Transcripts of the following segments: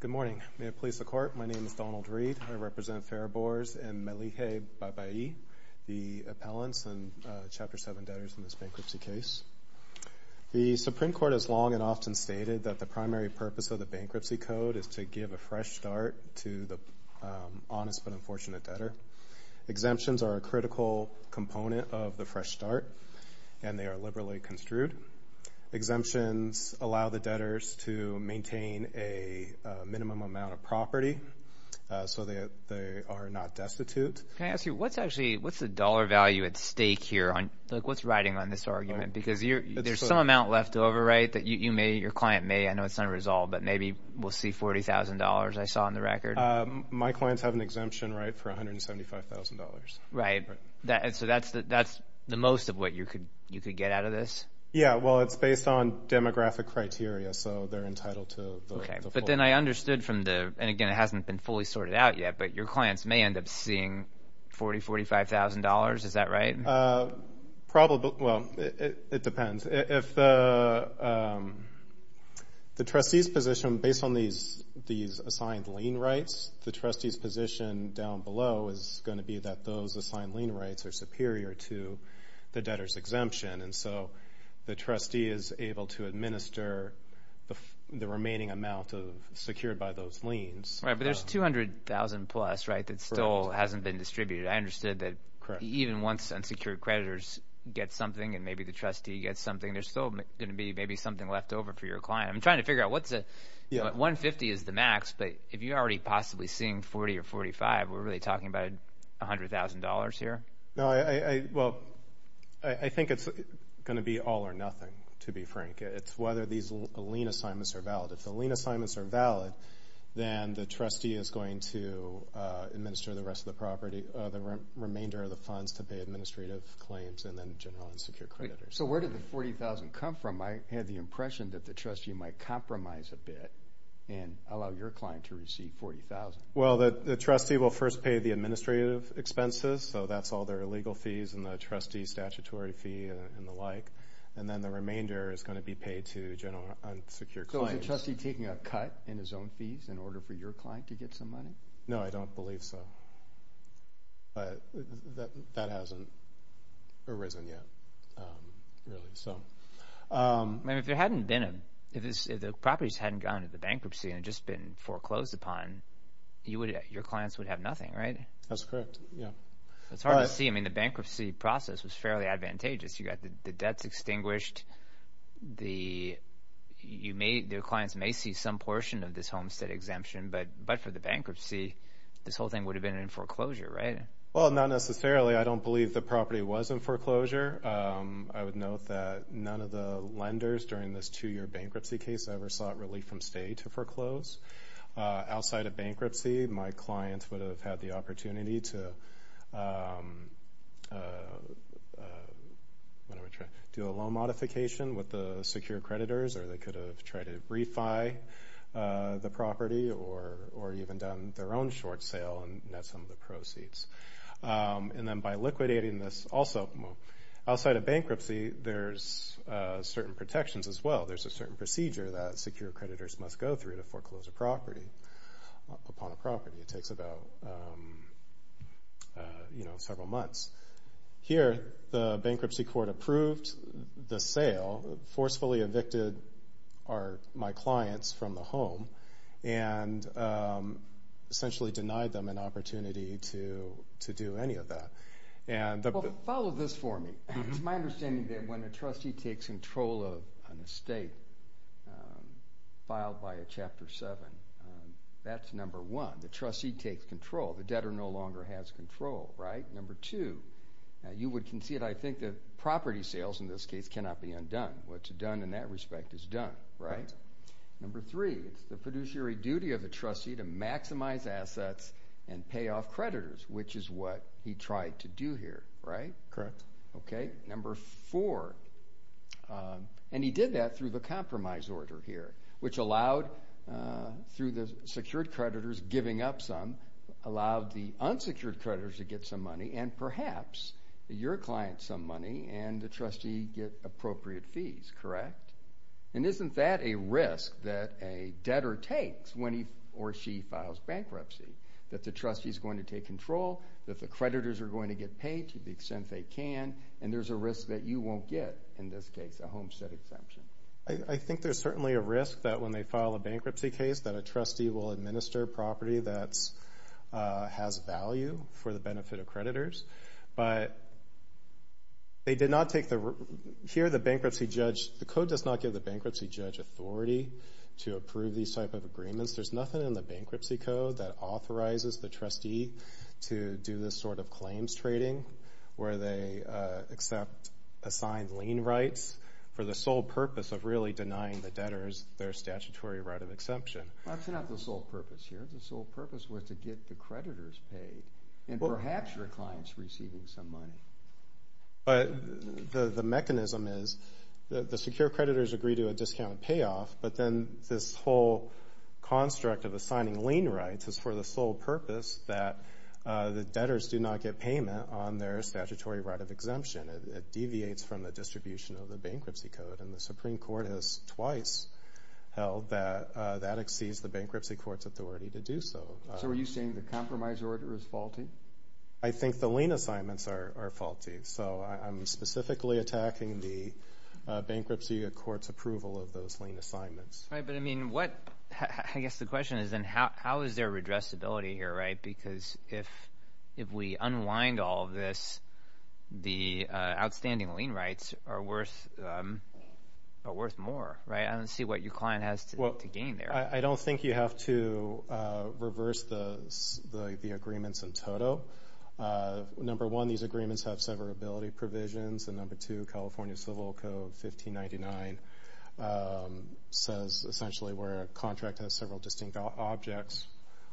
Good morning. May it please the Court, my name is Donald Reed. I represent Fariborz and Melike Babaee, the appellants and Chapter 7 debtors in this bankruptcy case. The Supreme Court has long and often stated that the primary purpose of the Bankruptcy Code is to give a fresh start to the honest but unfortunate debtor. Exemptions are a critical component of the fresh start and they are liberally construed. Exemptions allow the debtors to maintain a minimum amount of property so that they are not destitute. What's the dollar value at stake here? What's riding on this argument? There's some amount left over that your client may, I know it's unresolved, but maybe we'll see $40,000 I saw in the record. My clients have an exemption for $175,000. Right. So that's the most of what you could get out of this? Yeah, well it's based on demographic criteria so they're entitled to the full amount. But then I understood from the, and again it hasn't been fully sorted out yet, but your $40,000, $45,000, is that right? Probably, well it depends. If the trustee's position based on these assigned lien rights, the trustee's position down below is going to be that those assigned lien rights are superior to the debtor's exemption. And so the trustee is able to administer the remaining amount secured by those liens. Right, but there's $200,000 plus, right, that still hasn't been distributed. I understood that even once unsecured creditors get something and maybe the trustee gets something, there's still going to be maybe something left over for your client. I'm trying to figure out what's a, $150,000 is the max, but if you're already possibly seeing $40,000 or $45,000, we're really talking about $100,000 here? No, well I think it's going to be all or nothing, to be frank. It's whether these lien assignments are valid. If the lien assignments are valid, then the trustee is going to administer the rest of the property, the remainder of the funds to pay administrative claims and then general unsecured creditors. So where did the $40,000 come from? I had the impression that the trustee might compromise a bit and allow your client to receive $40,000. Well the trustee will first pay the administrative expenses, so that's all their legal fees and the trustee's statutory fee and the like. And then the remainder is going to be paid to general unsecured clients. So is the trustee taking a cut in his own fees in order for your client to get some money? No, I don't believe so. But that hasn't arisen yet, really. I mean if there hadn't been a, if the properties hadn't gone into the bankruptcy and just been foreclosed upon, your clients would have nothing, right? That's correct, yeah. It's hard to see. I mean the bankruptcy process was fairly advantageous. You got the debts extinguished. Your clients may see some portion of this homestead exemption, but for the bankruptcy, this whole thing would have been in foreclosure, right? Well not necessarily. I don't believe the property was in foreclosure. I would note that none of the lenders during this two-year bankruptcy case ever sought relief from stay to foreclose. Outside of bankruptcy, my clients would have had the opportunity to do a loan modification with the secure creditors or they could have tried to refi the property or even done their own short sale and net some of the proceeds. And then by liquidating this also, outside of bankruptcy, there's certain protections as well. There's a certain procedure that secure creditors must go through to foreclose a property, upon a property. It takes about, you know, several months. Here the bankruptcy court approved the sale, forcefully evicted our, my clients from the home and essentially denied them an opportunity to do any of that. Follow this for me. It's my understanding that when a trustee takes control of an estate filed by a Chapter 7, that's number one. The trustee takes control. The debtor no longer has control, right? Number two, you would concede I think that property sales in this case cannot be undone. What's done in that respect is done, right? Number three, it's the fiduciary duty of the trustee to maximize assets and pay off creditors, which is what he tried to do here, right? Correct. Okay. Number four, and he did that through the compromise order here, which allowed through the secured creditors giving up some, allowed the unsecured creditors to get some money and perhaps your client some money and the trustee get appropriate fees, correct? And isn't that a risk that a debtor takes when he or she files bankruptcy, that the trustee has control, that the creditors are going to get paid to the extent they can, and there's a risk that you won't get, in this case, a homestead exemption? I think there's certainly a risk that when they file a bankruptcy case that a trustee will administer property that has value for the benefit of creditors, but they did not take the, here the bankruptcy judge, the code does not give the bankruptcy judge authority to approve these type of agreements. There's nothing in the bankruptcy code that authorizes the trustee to do this sort of claims trading where they accept, assign lien rights for the sole purpose of really denying the debtors their statutory right of exemption. That's not the sole purpose here. The sole purpose was to get the creditors paid and perhaps your client's receiving some money. But the mechanism is the secured creditors agree to a discounted payoff, but then this whole construct of assigning lien rights is for the sole purpose that the debtors do not get payment on their statutory right of exemption. It deviates from the distribution of the bankruptcy code, and the Supreme Court has twice held that that exceeds the bankruptcy court's authority to do so. So are you saying the compromise order is faulty? I think the lien assignments are faulty, so I'm specifically attacking the bankruptcy court's approval of those lien assignments. Right, but I mean, I guess the question is then how is there redressability here, right? Because if we unwind all of this, the outstanding lien rights are worth more, right? I don't see what your client has to gain there. Well, I don't think you have to reverse the agreements in total. Number one, these contract has several distinct objects.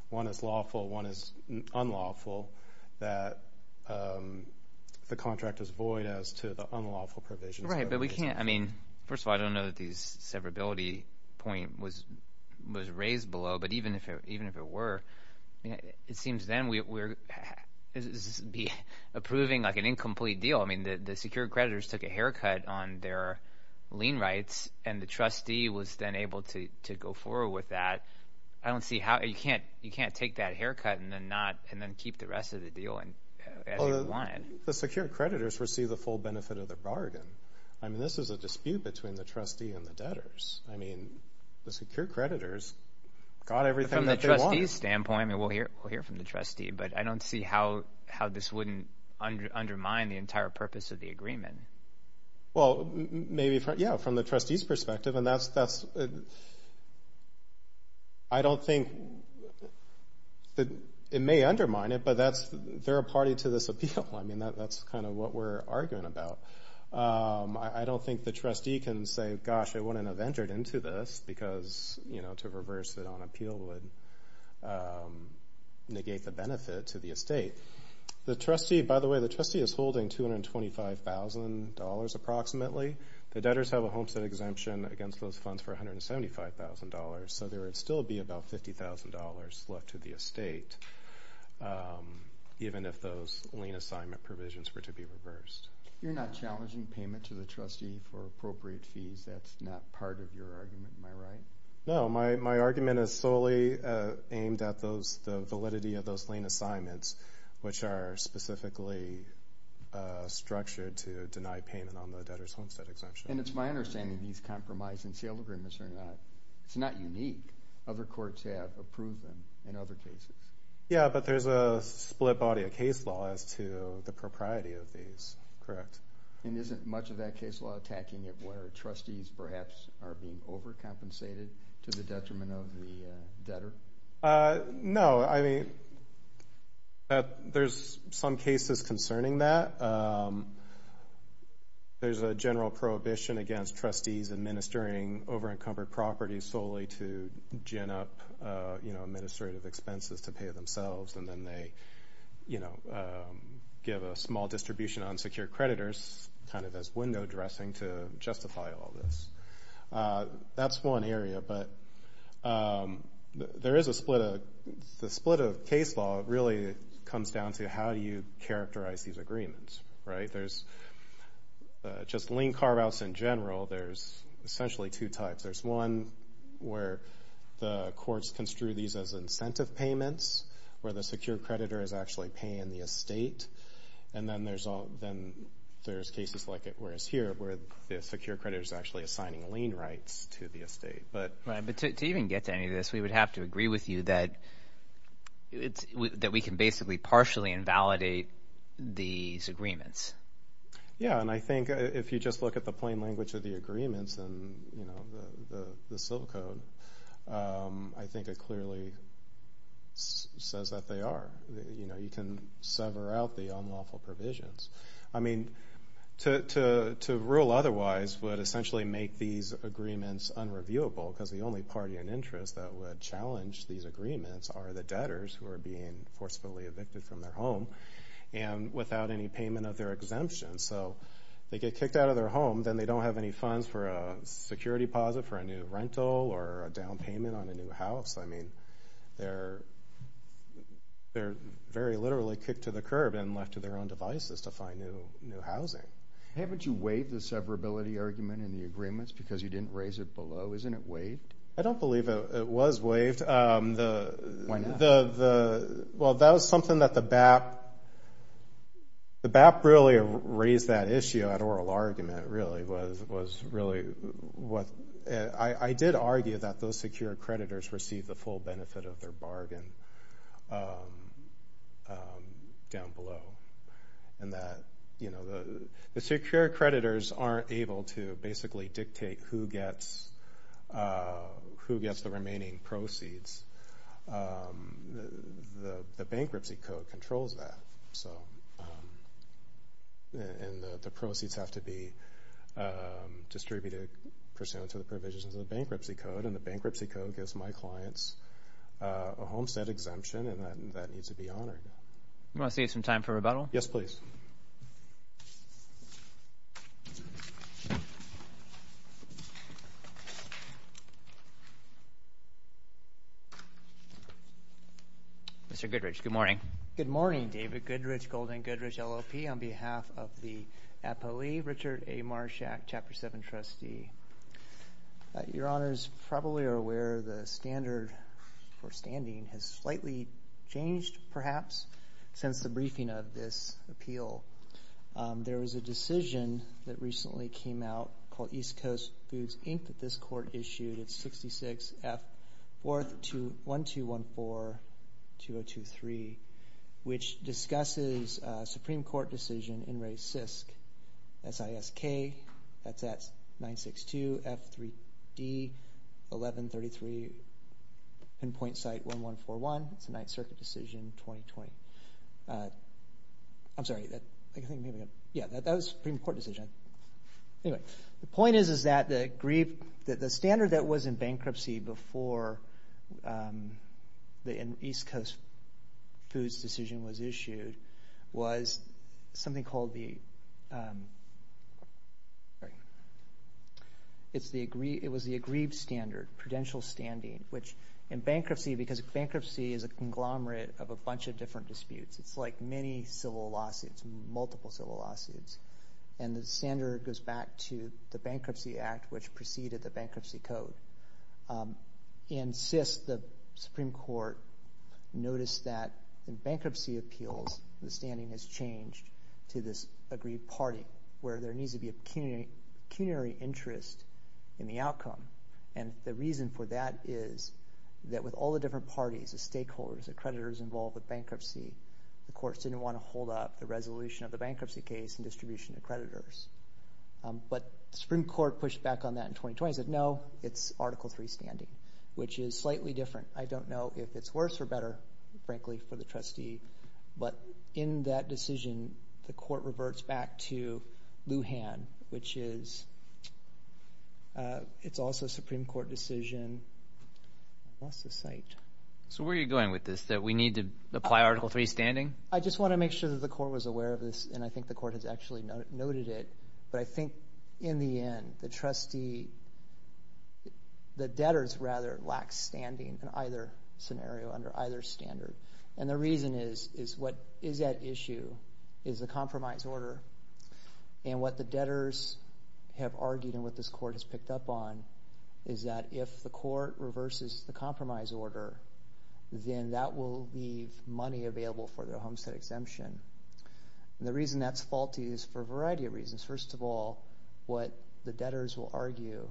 One is lawful, one is unlawful, that the contract is void as to the unlawful provisions. Right, but we can't, I mean, first of all, I don't know that these severability point was raised below, but even if it were, it seems then we're approving like an incomplete deal. I mean, the secured creditors took a haircut on their lien rights, and the trustee was then able to go forward with that. I don't see how, you can't take that haircut and then keep the rest of the deal as you want. The secured creditors receive the full benefit of the bargain. I mean, this is a dispute between the trustee and the debtors. I mean, the secured creditors got everything that they wanted. From the trustee's standpoint, I mean, we'll hear from the trustee, but I don't see how this wouldn't undermine the entire purpose of the agreement. Well, maybe, yeah, from the trustee's perspective, and that's, I don't think that it may undermine it, but that's, they're a party to this appeal. I mean, that's kind of what we're arguing about. I don't think the trustee can say, gosh, I wouldn't have entered into this because, you know, to reverse it on appeal would negate the benefit to the estate. The trustee, by the way, the trustee is holding $225,000 approximately. The debtors have a homestead exemption against those funds for $175,000, so there would still be about $50,000 left to the estate, even if those lien assignment provisions were to be reversed. You're not challenging payment to the trustee for appropriate fees. That's not part of your argument. Am I right? No, my argument is solely aimed at those, the validity of those lien assignments, which are specifically structured to deny payment on the debtors' homestead exemption. And it's my understanding these compromise and sale agreements are not, it's not unique. Other courts have approved them in other cases. Yeah, but there's a split body of case law as to the propriety of these. Correct. And isn't much of that case law attacking it where trustees perhaps are being overcompensated to the detriment of the debtor? No, I mean, there's some cases concerning that. There's a general prohibition against trustees administering over-encumbered properties solely to gin up, you know, administrative window dressing to justify all this. That's one area, but there is a split. The split of case law really comes down to how do you characterize these agreements, right? There's just lien carve-outs in general. There's essentially two types. There's one where the courts construe these as incentive payments, where the secure creditor is actually paying the estate, and then there's cases like it where it's here where the secure creditor is actually assigning lien rights to the estate. Right, but to even get to any of this, we would have to agree with you that we can basically partially invalidate these agreements. Yeah, and I think if you just look at the plain language of the agreements and, you know, the civil code, I think it clearly says that they are. You know, you can sever out the unlawful provisions. I mean, to rule otherwise would essentially make these agreements unreviewable because the only party in interest that would challenge these agreements are the debtors who are being forcefully evicted from their home and without any payment of their exemption. So they get kicked out of their home, then they don't have any funds for a security deposit for a new rental or a down payment on a new house. I mean, they're very literally kicked to the curb and left to their own devices to find new housing. Haven't you waived the severability argument in the agreements because you didn't raise it below? Isn't it waived? I don't believe it was waived. Why not? Well, that was something that the BAP really raised that issue at oral argument, really, was really what – I did argue that those secure creditors receive the full benefit of their bargain down below and that, you know, the secure creditors aren't able to basically dictate who gets the remaining proceeds. The bankruptcy code controls that, so – and the proceeds have to be distributed pursuant to the provisions of the bankruptcy code, and the bankruptcy code gives my clients a homestead exemption and that needs to be honored. Do you want to save some time for rebuttal? Yes, please. Mr. Goodrich, good morning. Good morning, David Goodrich, Golden Goodrich, LLP. On behalf of the APOE, Richard A. Marshak, Chapter 7 trustee. Your honors probably are aware the standard for standing has slightly changed, perhaps, since the briefing of this appeal. There was a decision that recently came out called East Coast Foods, Inc., that this court issued. It's 66-F-1214-2023, which discusses a Supreme Court decision in re CISC, S-I-S-K, that's at 962-F-3-D-1133, pinpoint site 1141. It's a Ninth Circuit decision, 2020. I'm sorry, that – I think Anyway, the point is that the standard that was in bankruptcy before the East Coast Foods decision was issued was something called the – sorry. It was the aggrieved standard, prudential standing, which in bankruptcy, because bankruptcy is a conglomerate of a bunch of different disputes. It's like many civil lawsuits, multiple civil lawsuits, and the standard goes back to the Bankruptcy Act, which preceded the Bankruptcy Code. In CISC, the Supreme Court noticed that in bankruptcy appeals, the standing has changed to this aggrieved party, where there needs to be a pecuniary interest in the outcome, and the reason for that is that with all the different parties, the stakeholders, the creditors involved with bankruptcy, the courts didn't want to hold up the resolution of the bankruptcy case in distribution of creditors. But the Supreme Court pushed back on that in 2020 and said, no, it's Article III standing, which is slightly different. I don't know if it's worse or better, frankly, for the trustee, but in that decision, the court reverts back to Lujan, which is – it's also a Supreme Court decision. I lost the site. So where are you going with this, that we need to apply Article III standing? I just want to make sure that the court was aware of this, and I think the court has actually noted it, but I think in the end, the trustee – the debtors, rather, lack standing in either scenario, under either standard, and the reason is, is what is at issue is the compromise order, and what the debtors have argued and what this court has picked up on is that if the court reverses the compromise order, then that will leave money available for the homestead exemption, and the reason that's faulty is for a variety of reasons. First of all, what the debtors will argue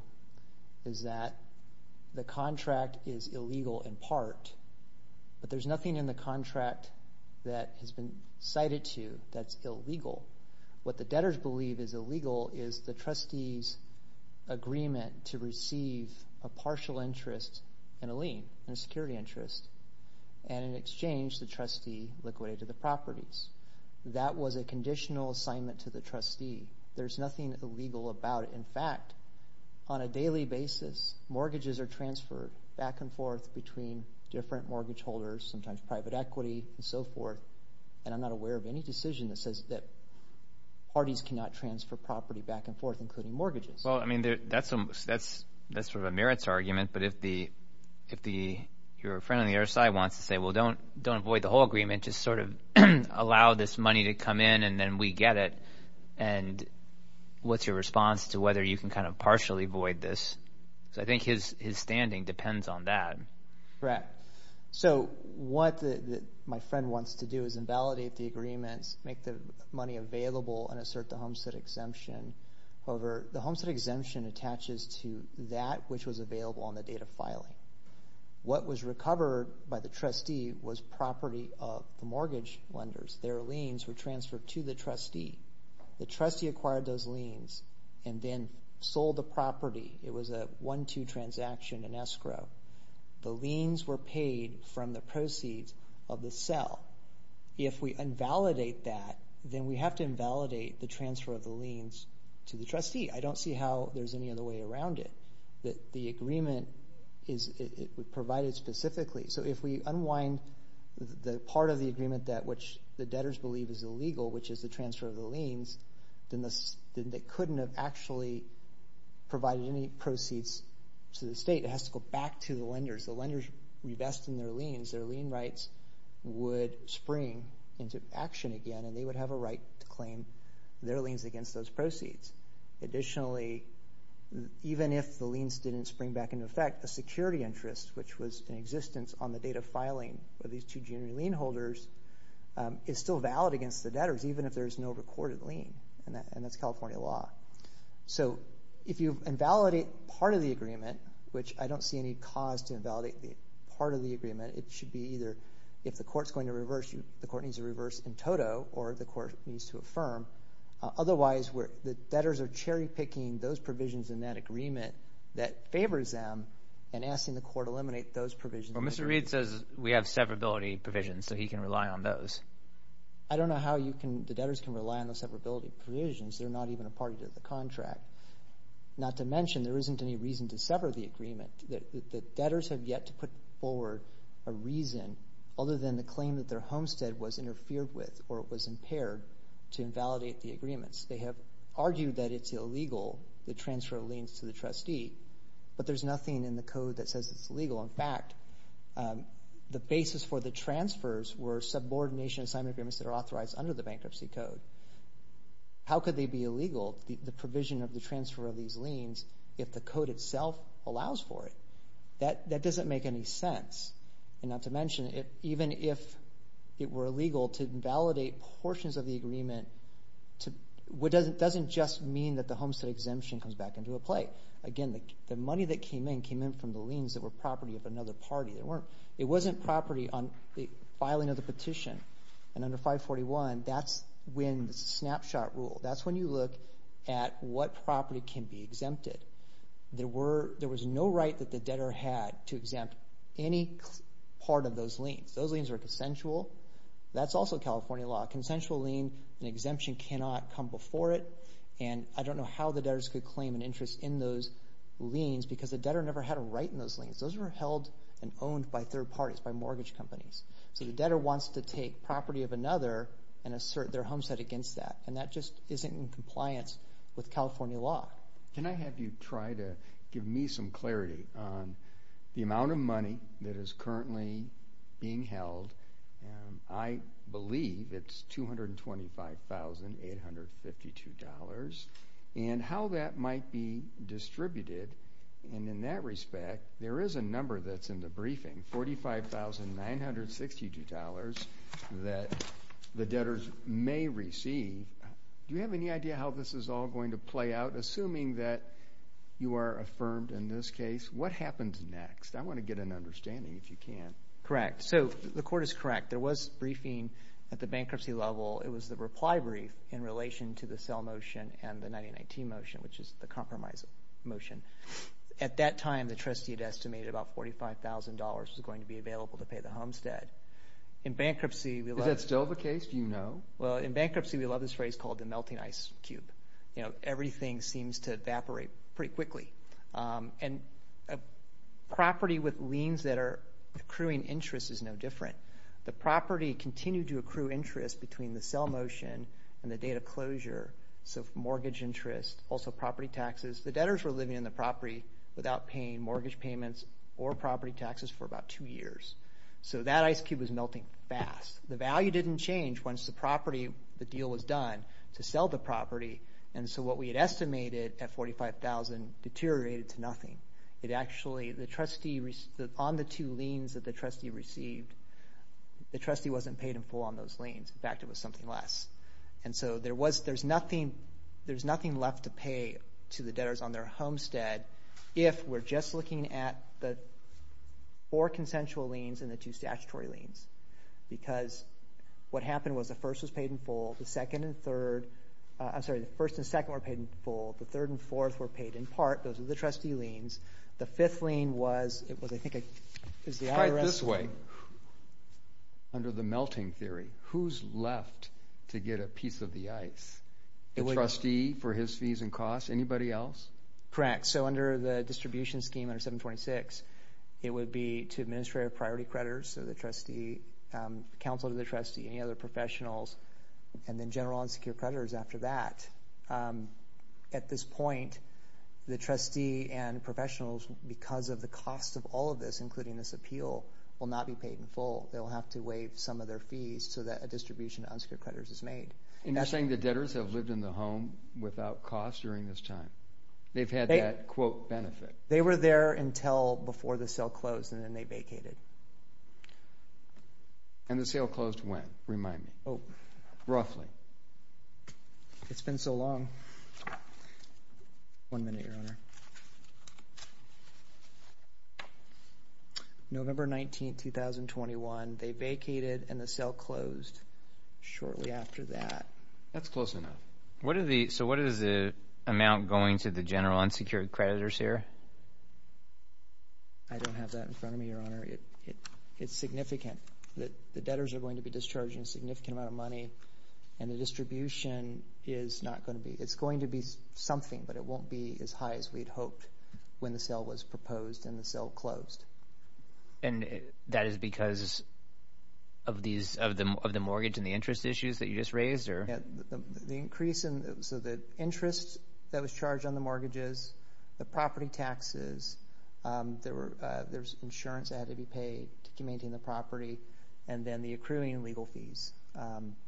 is that the contract is illegal in part, but there's nothing in the contract that has been cited to that's illegal. What the debtors believe is illegal is the trustee's agreement to receive a partial interest and a lien, and a security interest, and in exchange, the trustee liquidated the properties. That was a conditional assignment to the trustee. There's nothing illegal about it. In fact, on a daily basis, mortgages are transferred back and forth between different mortgage holders, sometimes private equity and so forth, and I'm not aware of any decision that says that parties cannot transfer property back and forth, including mortgages. Well, I mean, that's sort of a merits argument, but if your friend on the other side wants to say, well, don't avoid the whole agreement. Just sort of allow this money to come in, and then we get it, and what's your response to whether you can kind of partially avoid this? Because I think his standing depends on that. Correct. So what my friend wants to do is invalidate the agreements, make the money available, and assert the homestead exemption. However, the homestead exemption attaches to that which was available on the date of filing. What was recovered by the trustee was property of the mortgage lenders. Their liens were transferred to the trustee. The trustee acquired those liens and then sold the property. It was a one-two transaction, an escrow. The liens were paid from the proceeds of the sell. If we invalidate that, then we have to invalidate the transfer of the liens to the trustee. I don't see how there's any other way around it, that the agreement is provided specifically. So if we unwind the part of the agreement that which the debtors believe is illegal, which is the transfer of the liens, then they couldn't have actually provided any proceeds to the state. It has to go back to the lenders. The lenders revesting their liens, their lien into action again, and they would have a right to claim their liens against those proceeds. Additionally, even if the liens didn't spring back into effect, the security interest, which was in existence on the date of filing of these two junior lien holders, is still valid against the debtors, even if there is no recorded lien, and that's California law. So if you invalidate part of the agreement, which I don't see any cause to invalidate the part of the agreement, it should be either if the court's going to reverse, the court needs to reverse in toto, or the court needs to affirm. Otherwise, the debtors are cherry-picking those provisions in that agreement that favors them and asking the court to eliminate those provisions. But Mr. Reed says we have severability provisions, so he can rely on those. I don't know how the debtors can rely on those severability provisions. They're not even a part of the contract. Not to mention, there isn't any reason to sever the agreement. The debtors have yet to put forward a reason other than the claim that their homestead was interfered with or was impaired to invalidate the agreements. They have argued that it's illegal, the transfer of liens to the trustee, but there's nothing in the code that says it's illegal. In fact, the basis for the transfers were subordination assignment agreements that are authorized under the bankruptcy code. How could they be illegal, the provision of the transfer of these liens, if the code itself allows for it? That doesn't make any sense. And not to mention, even if it were illegal to invalidate portions of the agreement, it doesn't just mean that the homestead exemption comes back into play. Again, the money that came in came in from the liens that were property of another party. It wasn't property on the filing of the petition. And under 541, that's when the snapshot rule, that's when you look at what property can be exempted. There was no right that the debtor had to exempt any part of those liens. Those liens were consensual. That's also California law. A consensual lien, an exemption cannot come before it. And I don't know how the debtors could claim an interest in those liens because the debtor never had a right in those liens. Those were held and owned by third parties, by mortgage companies. So the debtor wants to take property of another and assert their homestead against that. And that just isn't in compliance with California law. Can I have you try to give me some clarity on the amount of money that is currently being held? I believe it's $225,852. And how that might be distributed, and in that respect, there is a number that's in the briefing, $45,962 that the debtors may receive. Do you have any idea how this is all going to play out? Assuming that you are affirmed in this case, what happens next? I want to get an understanding, if you can. Correct. So the court is correct. There was briefing at the bankruptcy level. It was the reply brief in relation to the sell motion and the 99T motion, which is the compromise motion. At that time, the trustee had estimated about $45,000 was going to be available to pay the homestead. In bankruptcy, we love this phrase called the melting ice cube. You know, everything seems to evaporate pretty quickly. And a property with liens that are accruing interest is no different. The property continued to accrue interest between the sell motion and the date of closure, so mortgage interest, also property taxes. The debtors were living in the property without paying mortgage payments or property taxes for about two years. So that ice cube was melting fast. The value didn't change once the deal was done to sell the property, and so what we had estimated at $45,000 deteriorated to nothing. It actually, on the two liens that the trustee received, the trustee wasn't paid in full on those liens. In fact, it was something less. And so there's nothing left to pay to the debtors on their homestead if we're just looking at the four consensual liens and the two statutory liens because what happened was the first was paid in full, the second and third. I'm sorry, the first and second were paid in full. The third and fourth were paid in part. Those are the trustee liens. The fifth lien was, I think, the IRS. Try it this way. Under the melting theory, who's left to get a piece of the ice? The trustee for his fees and costs? Anybody else? Correct. So under the distribution scheme under 726, it would be to administrative priority creditors, so the trustee, counsel to the trustee, any other professionals, and then general unsecured creditors after that. At this point, the trustee and professionals, because of the cost of all of this, including this appeal, will not be paid in full. They will have to waive some of their fees so that a distribution to unsecured creditors is made. And you're saying the debtors have lived in the home without cost during this time? They've had that, quote, benefit. They were there until before the sale closed, and then they vacated. And the sale closed when? Remind me. Roughly. It's been so long. One minute, Your Honor. November 19, 2021, they vacated, and the sale closed shortly after that. That's close enough. So what is the amount going to the general unsecured creditors here? I don't have that in front of me, Your Honor. It's significant. The debtors are going to be discharging a significant amount of money, and the distribution is not going to be ñ it's going to be something, but it won't be as high as we'd hoped when the sale was proposed and the sale closed. And that is because of the mortgage and the interest issues that you just raised? The increase in ñ so the interest that was charged on the mortgages, the property taxes, there was insurance that had to be paid to maintain the property, and then the accruing legal fees.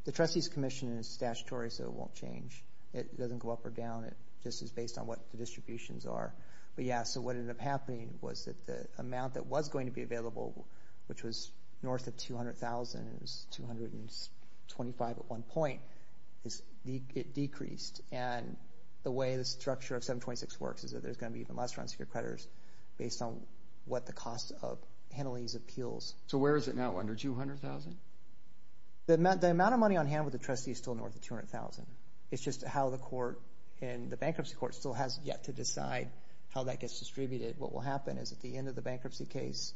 The trustee's commission is statutory, so it won't change. It doesn't go up or down. It just is based on what the distributions are. But, yeah, so what ended up happening was that the amount that was going to be available, which was north of $200,000, and it was $225,000 at one point, it decreased. And the way the structure of 726 works is that there's going to be even less unsecured creditors based on what the cost of handling these appeals. So where is it now, under $200,000? The amount of money on hand with the trustee is still north of $200,000. It's just how the court and the bankruptcy court still has yet to decide how that gets distributed. What will happen is at the end of the bankruptcy case,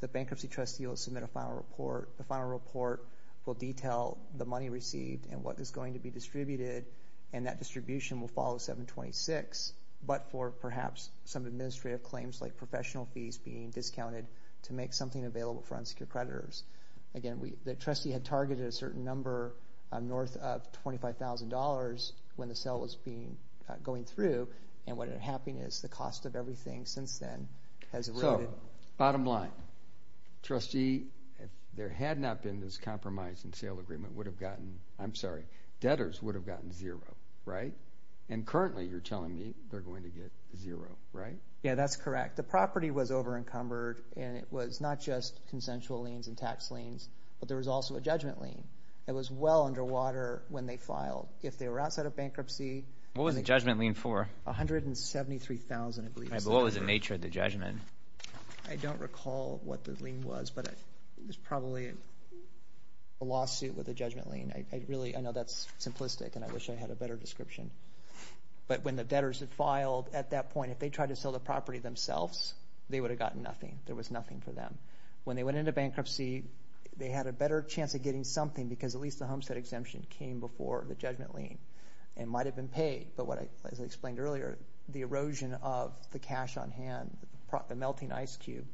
the bankruptcy trustee will submit a final report. The final report will detail the money received and what is going to be distributed, and that distribution will follow 726, but for perhaps some administrative claims like professional fees being discounted to make something available for unsecured creditors. Again, the trustee had targeted a certain number north of $25,000 when the sale was going through, and what happened is the cost of everything since then has eroded. So bottom line, trustee, if there had not been this compromise and sale agreement, debtors would have gotten zero, right? And currently you're telling me they're going to get zero, right? Yeah, that's correct. The property was over-encumbered, and it was not just consensual liens and tax liens, but there was also a judgment lien that was well underwater when they filed. If they were outside of bankruptcy. What was the judgment lien for? $173,000, I believe. But what was the nature of the judgment? I don't recall what the lien was, but it was probably a lawsuit with a judgment lien. I really know that's simplistic, and I wish I had a better description. But when the debtors had filed at that point, if they tried to sell the property themselves, they would have gotten nothing. There was nothing for them. When they went into bankruptcy, they had a better chance of getting something because at least the homestead exemption came before the judgment lien and might have been paid. But as I explained earlier, the erosion of the cash on hand, the melting ice cube,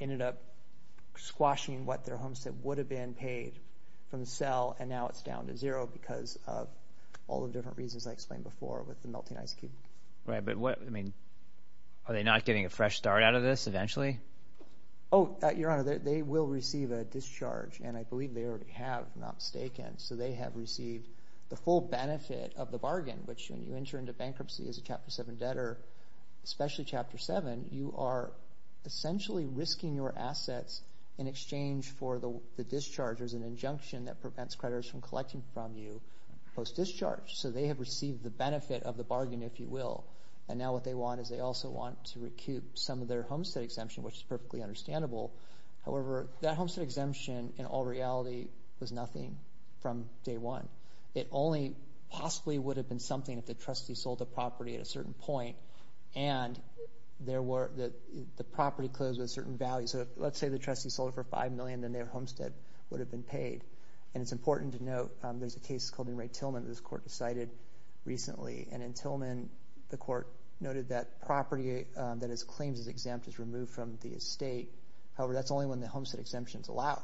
ended up squashing what their homestead would have been paid from the sale, and now it's down to zero because of all the different reasons I explained before with the melting ice cube. Right, but are they not getting a fresh start out of this eventually? Oh, Your Honor, they will receive a discharge, and I believe they already have, if I'm not mistaken. So they have received the full benefit of the bargain, which when you enter into bankruptcy as a Chapter 7 debtor, especially Chapter 7, you are essentially risking your assets in exchange for the discharge. There's an injunction that prevents creditors from collecting from you post-discharge. So they have received the benefit of the bargain, if you will, and now what they want is they also want to recoup some of their homestead exemption, which is perfectly understandable. However, that homestead exemption, in all reality, was nothing from day one. It only possibly would have been something if the trustee sold the property at a certain point and the property closed with a certain value. So let's say the trustee sold it for $5 million, then their homestead would have been paid. And it's important to note there's a case called Enright Tillman that this Court decided recently, and in Tillman the Court noted that property that is claimed as exempt is removed from the estate however that's only when the homestead exemption is allowed.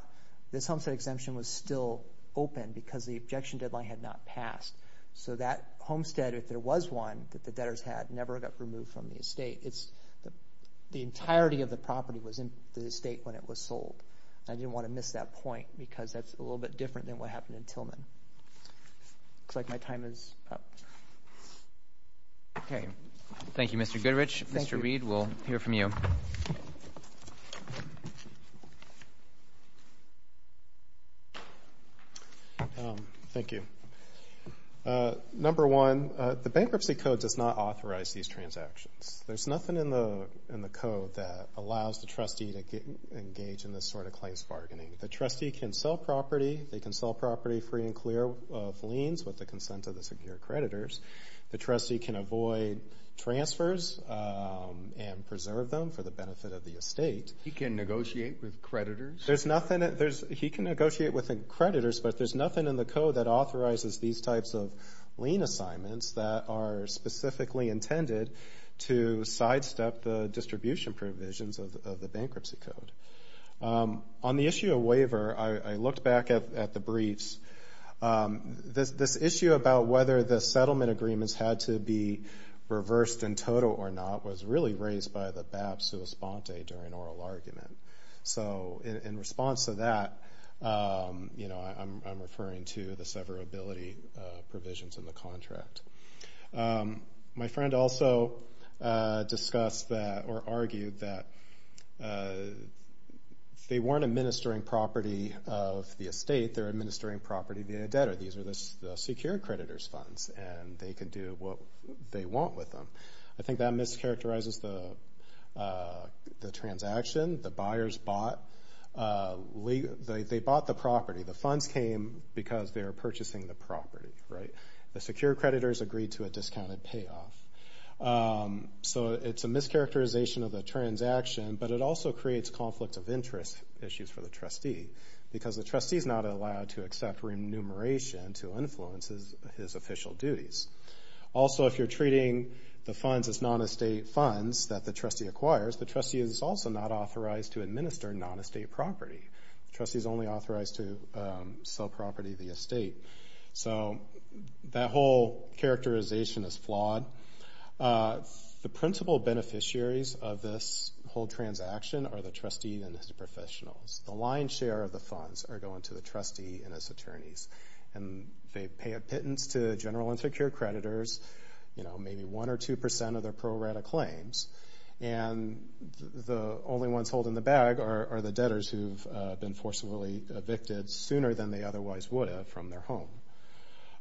This homestead exemption was still open because the objection deadline had not passed. So that homestead, if there was one that the debtors had, never got removed from the estate. The entirety of the property was in the estate when it was sold. I didn't want to miss that point because that's a little bit different than what happened in Tillman. Looks like my time is up. Okay. Thank you, Mr. Goodrich. Mr. Reed, we'll hear from you. Thank you. Number one, the Bankruptcy Code does not authorize these transactions. There's nothing in the code that allows the trustee to engage in this sort of claims bargaining. The trustee can sell property. They can sell property free and clear of liens with the consent of the secure creditors. The trustee can avoid transfers and preserve them for the benefit of the estate. He can negotiate with creditors? He can negotiate with creditors, but there's nothing in the code that authorizes these types of lien assignments that are specifically intended to sidestep the distribution provisions of the Bankruptcy Code. On the issue of waiver, I looked back at the briefs. This issue about whether the settlement agreements had to be reversed in total or not was really raised by the BAP sui sponte during oral argument. In response to that, I'm referring to the severability provisions in the contract. My friend also discussed or argued that if they weren't administering property of the estate, they're administering property via debtor. These are the secure creditors' funds, and they can do what they want with them. I think that mischaracterizes the transaction. The buyers bought the property. The funds came because they were purchasing the property. The secure creditors agreed to a discounted payoff. So it's a mischaracterization of the transaction, but it also creates conflict of interest issues for the trustee because the trustee is not allowed to accept remuneration to influence his official duties. Also, if you're treating the funds as non-estate funds that the trustee acquires, the trustee is also not authorized to administer non-estate property. The trustee is only authorized to sell property of the estate. So that whole characterization is flawed. The principal beneficiaries of this whole transaction are the trustee and his professionals. The lion's share of the funds are going to the trustee and his attorneys, and they pay a pittance to general and secure creditors, maybe 1% or 2% of their pro rata claims, and the only ones holding the bag are the debtors who've been forcibly evicted sooner than they otherwise would have from their home.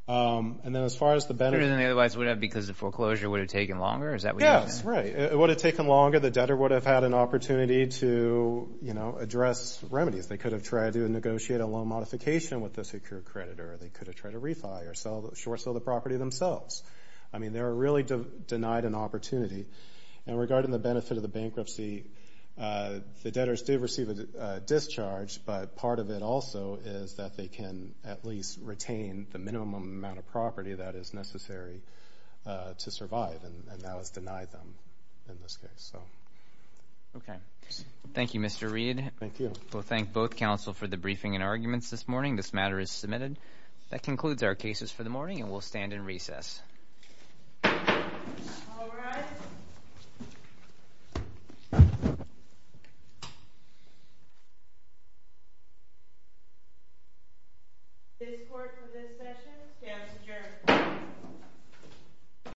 And then as far as the benefit… Sooner than they otherwise would have because the foreclosure would have taken longer? Is that what you're saying? Yes, right. It would have taken longer. The debtor would have had an opportunity to, you know, address remedies. They could have tried to negotiate a loan modification with the secure creditor. They could have tried to refi or short sell the property themselves. I mean, they were really denied an opportunity. And regarding the benefit of the bankruptcy, the debtors did receive a discharge, but part of it also is that they can at least retain the minimum amount of property that is necessary to survive, and that was denied them in this case. Okay. Thank you, Mr. Reed. Thank you. We'll thank both counsel for the briefing and arguments this morning. This matter is submitted. That concludes our cases for the morning, and we'll stand in recess. All rise. This court for this session stands adjourned.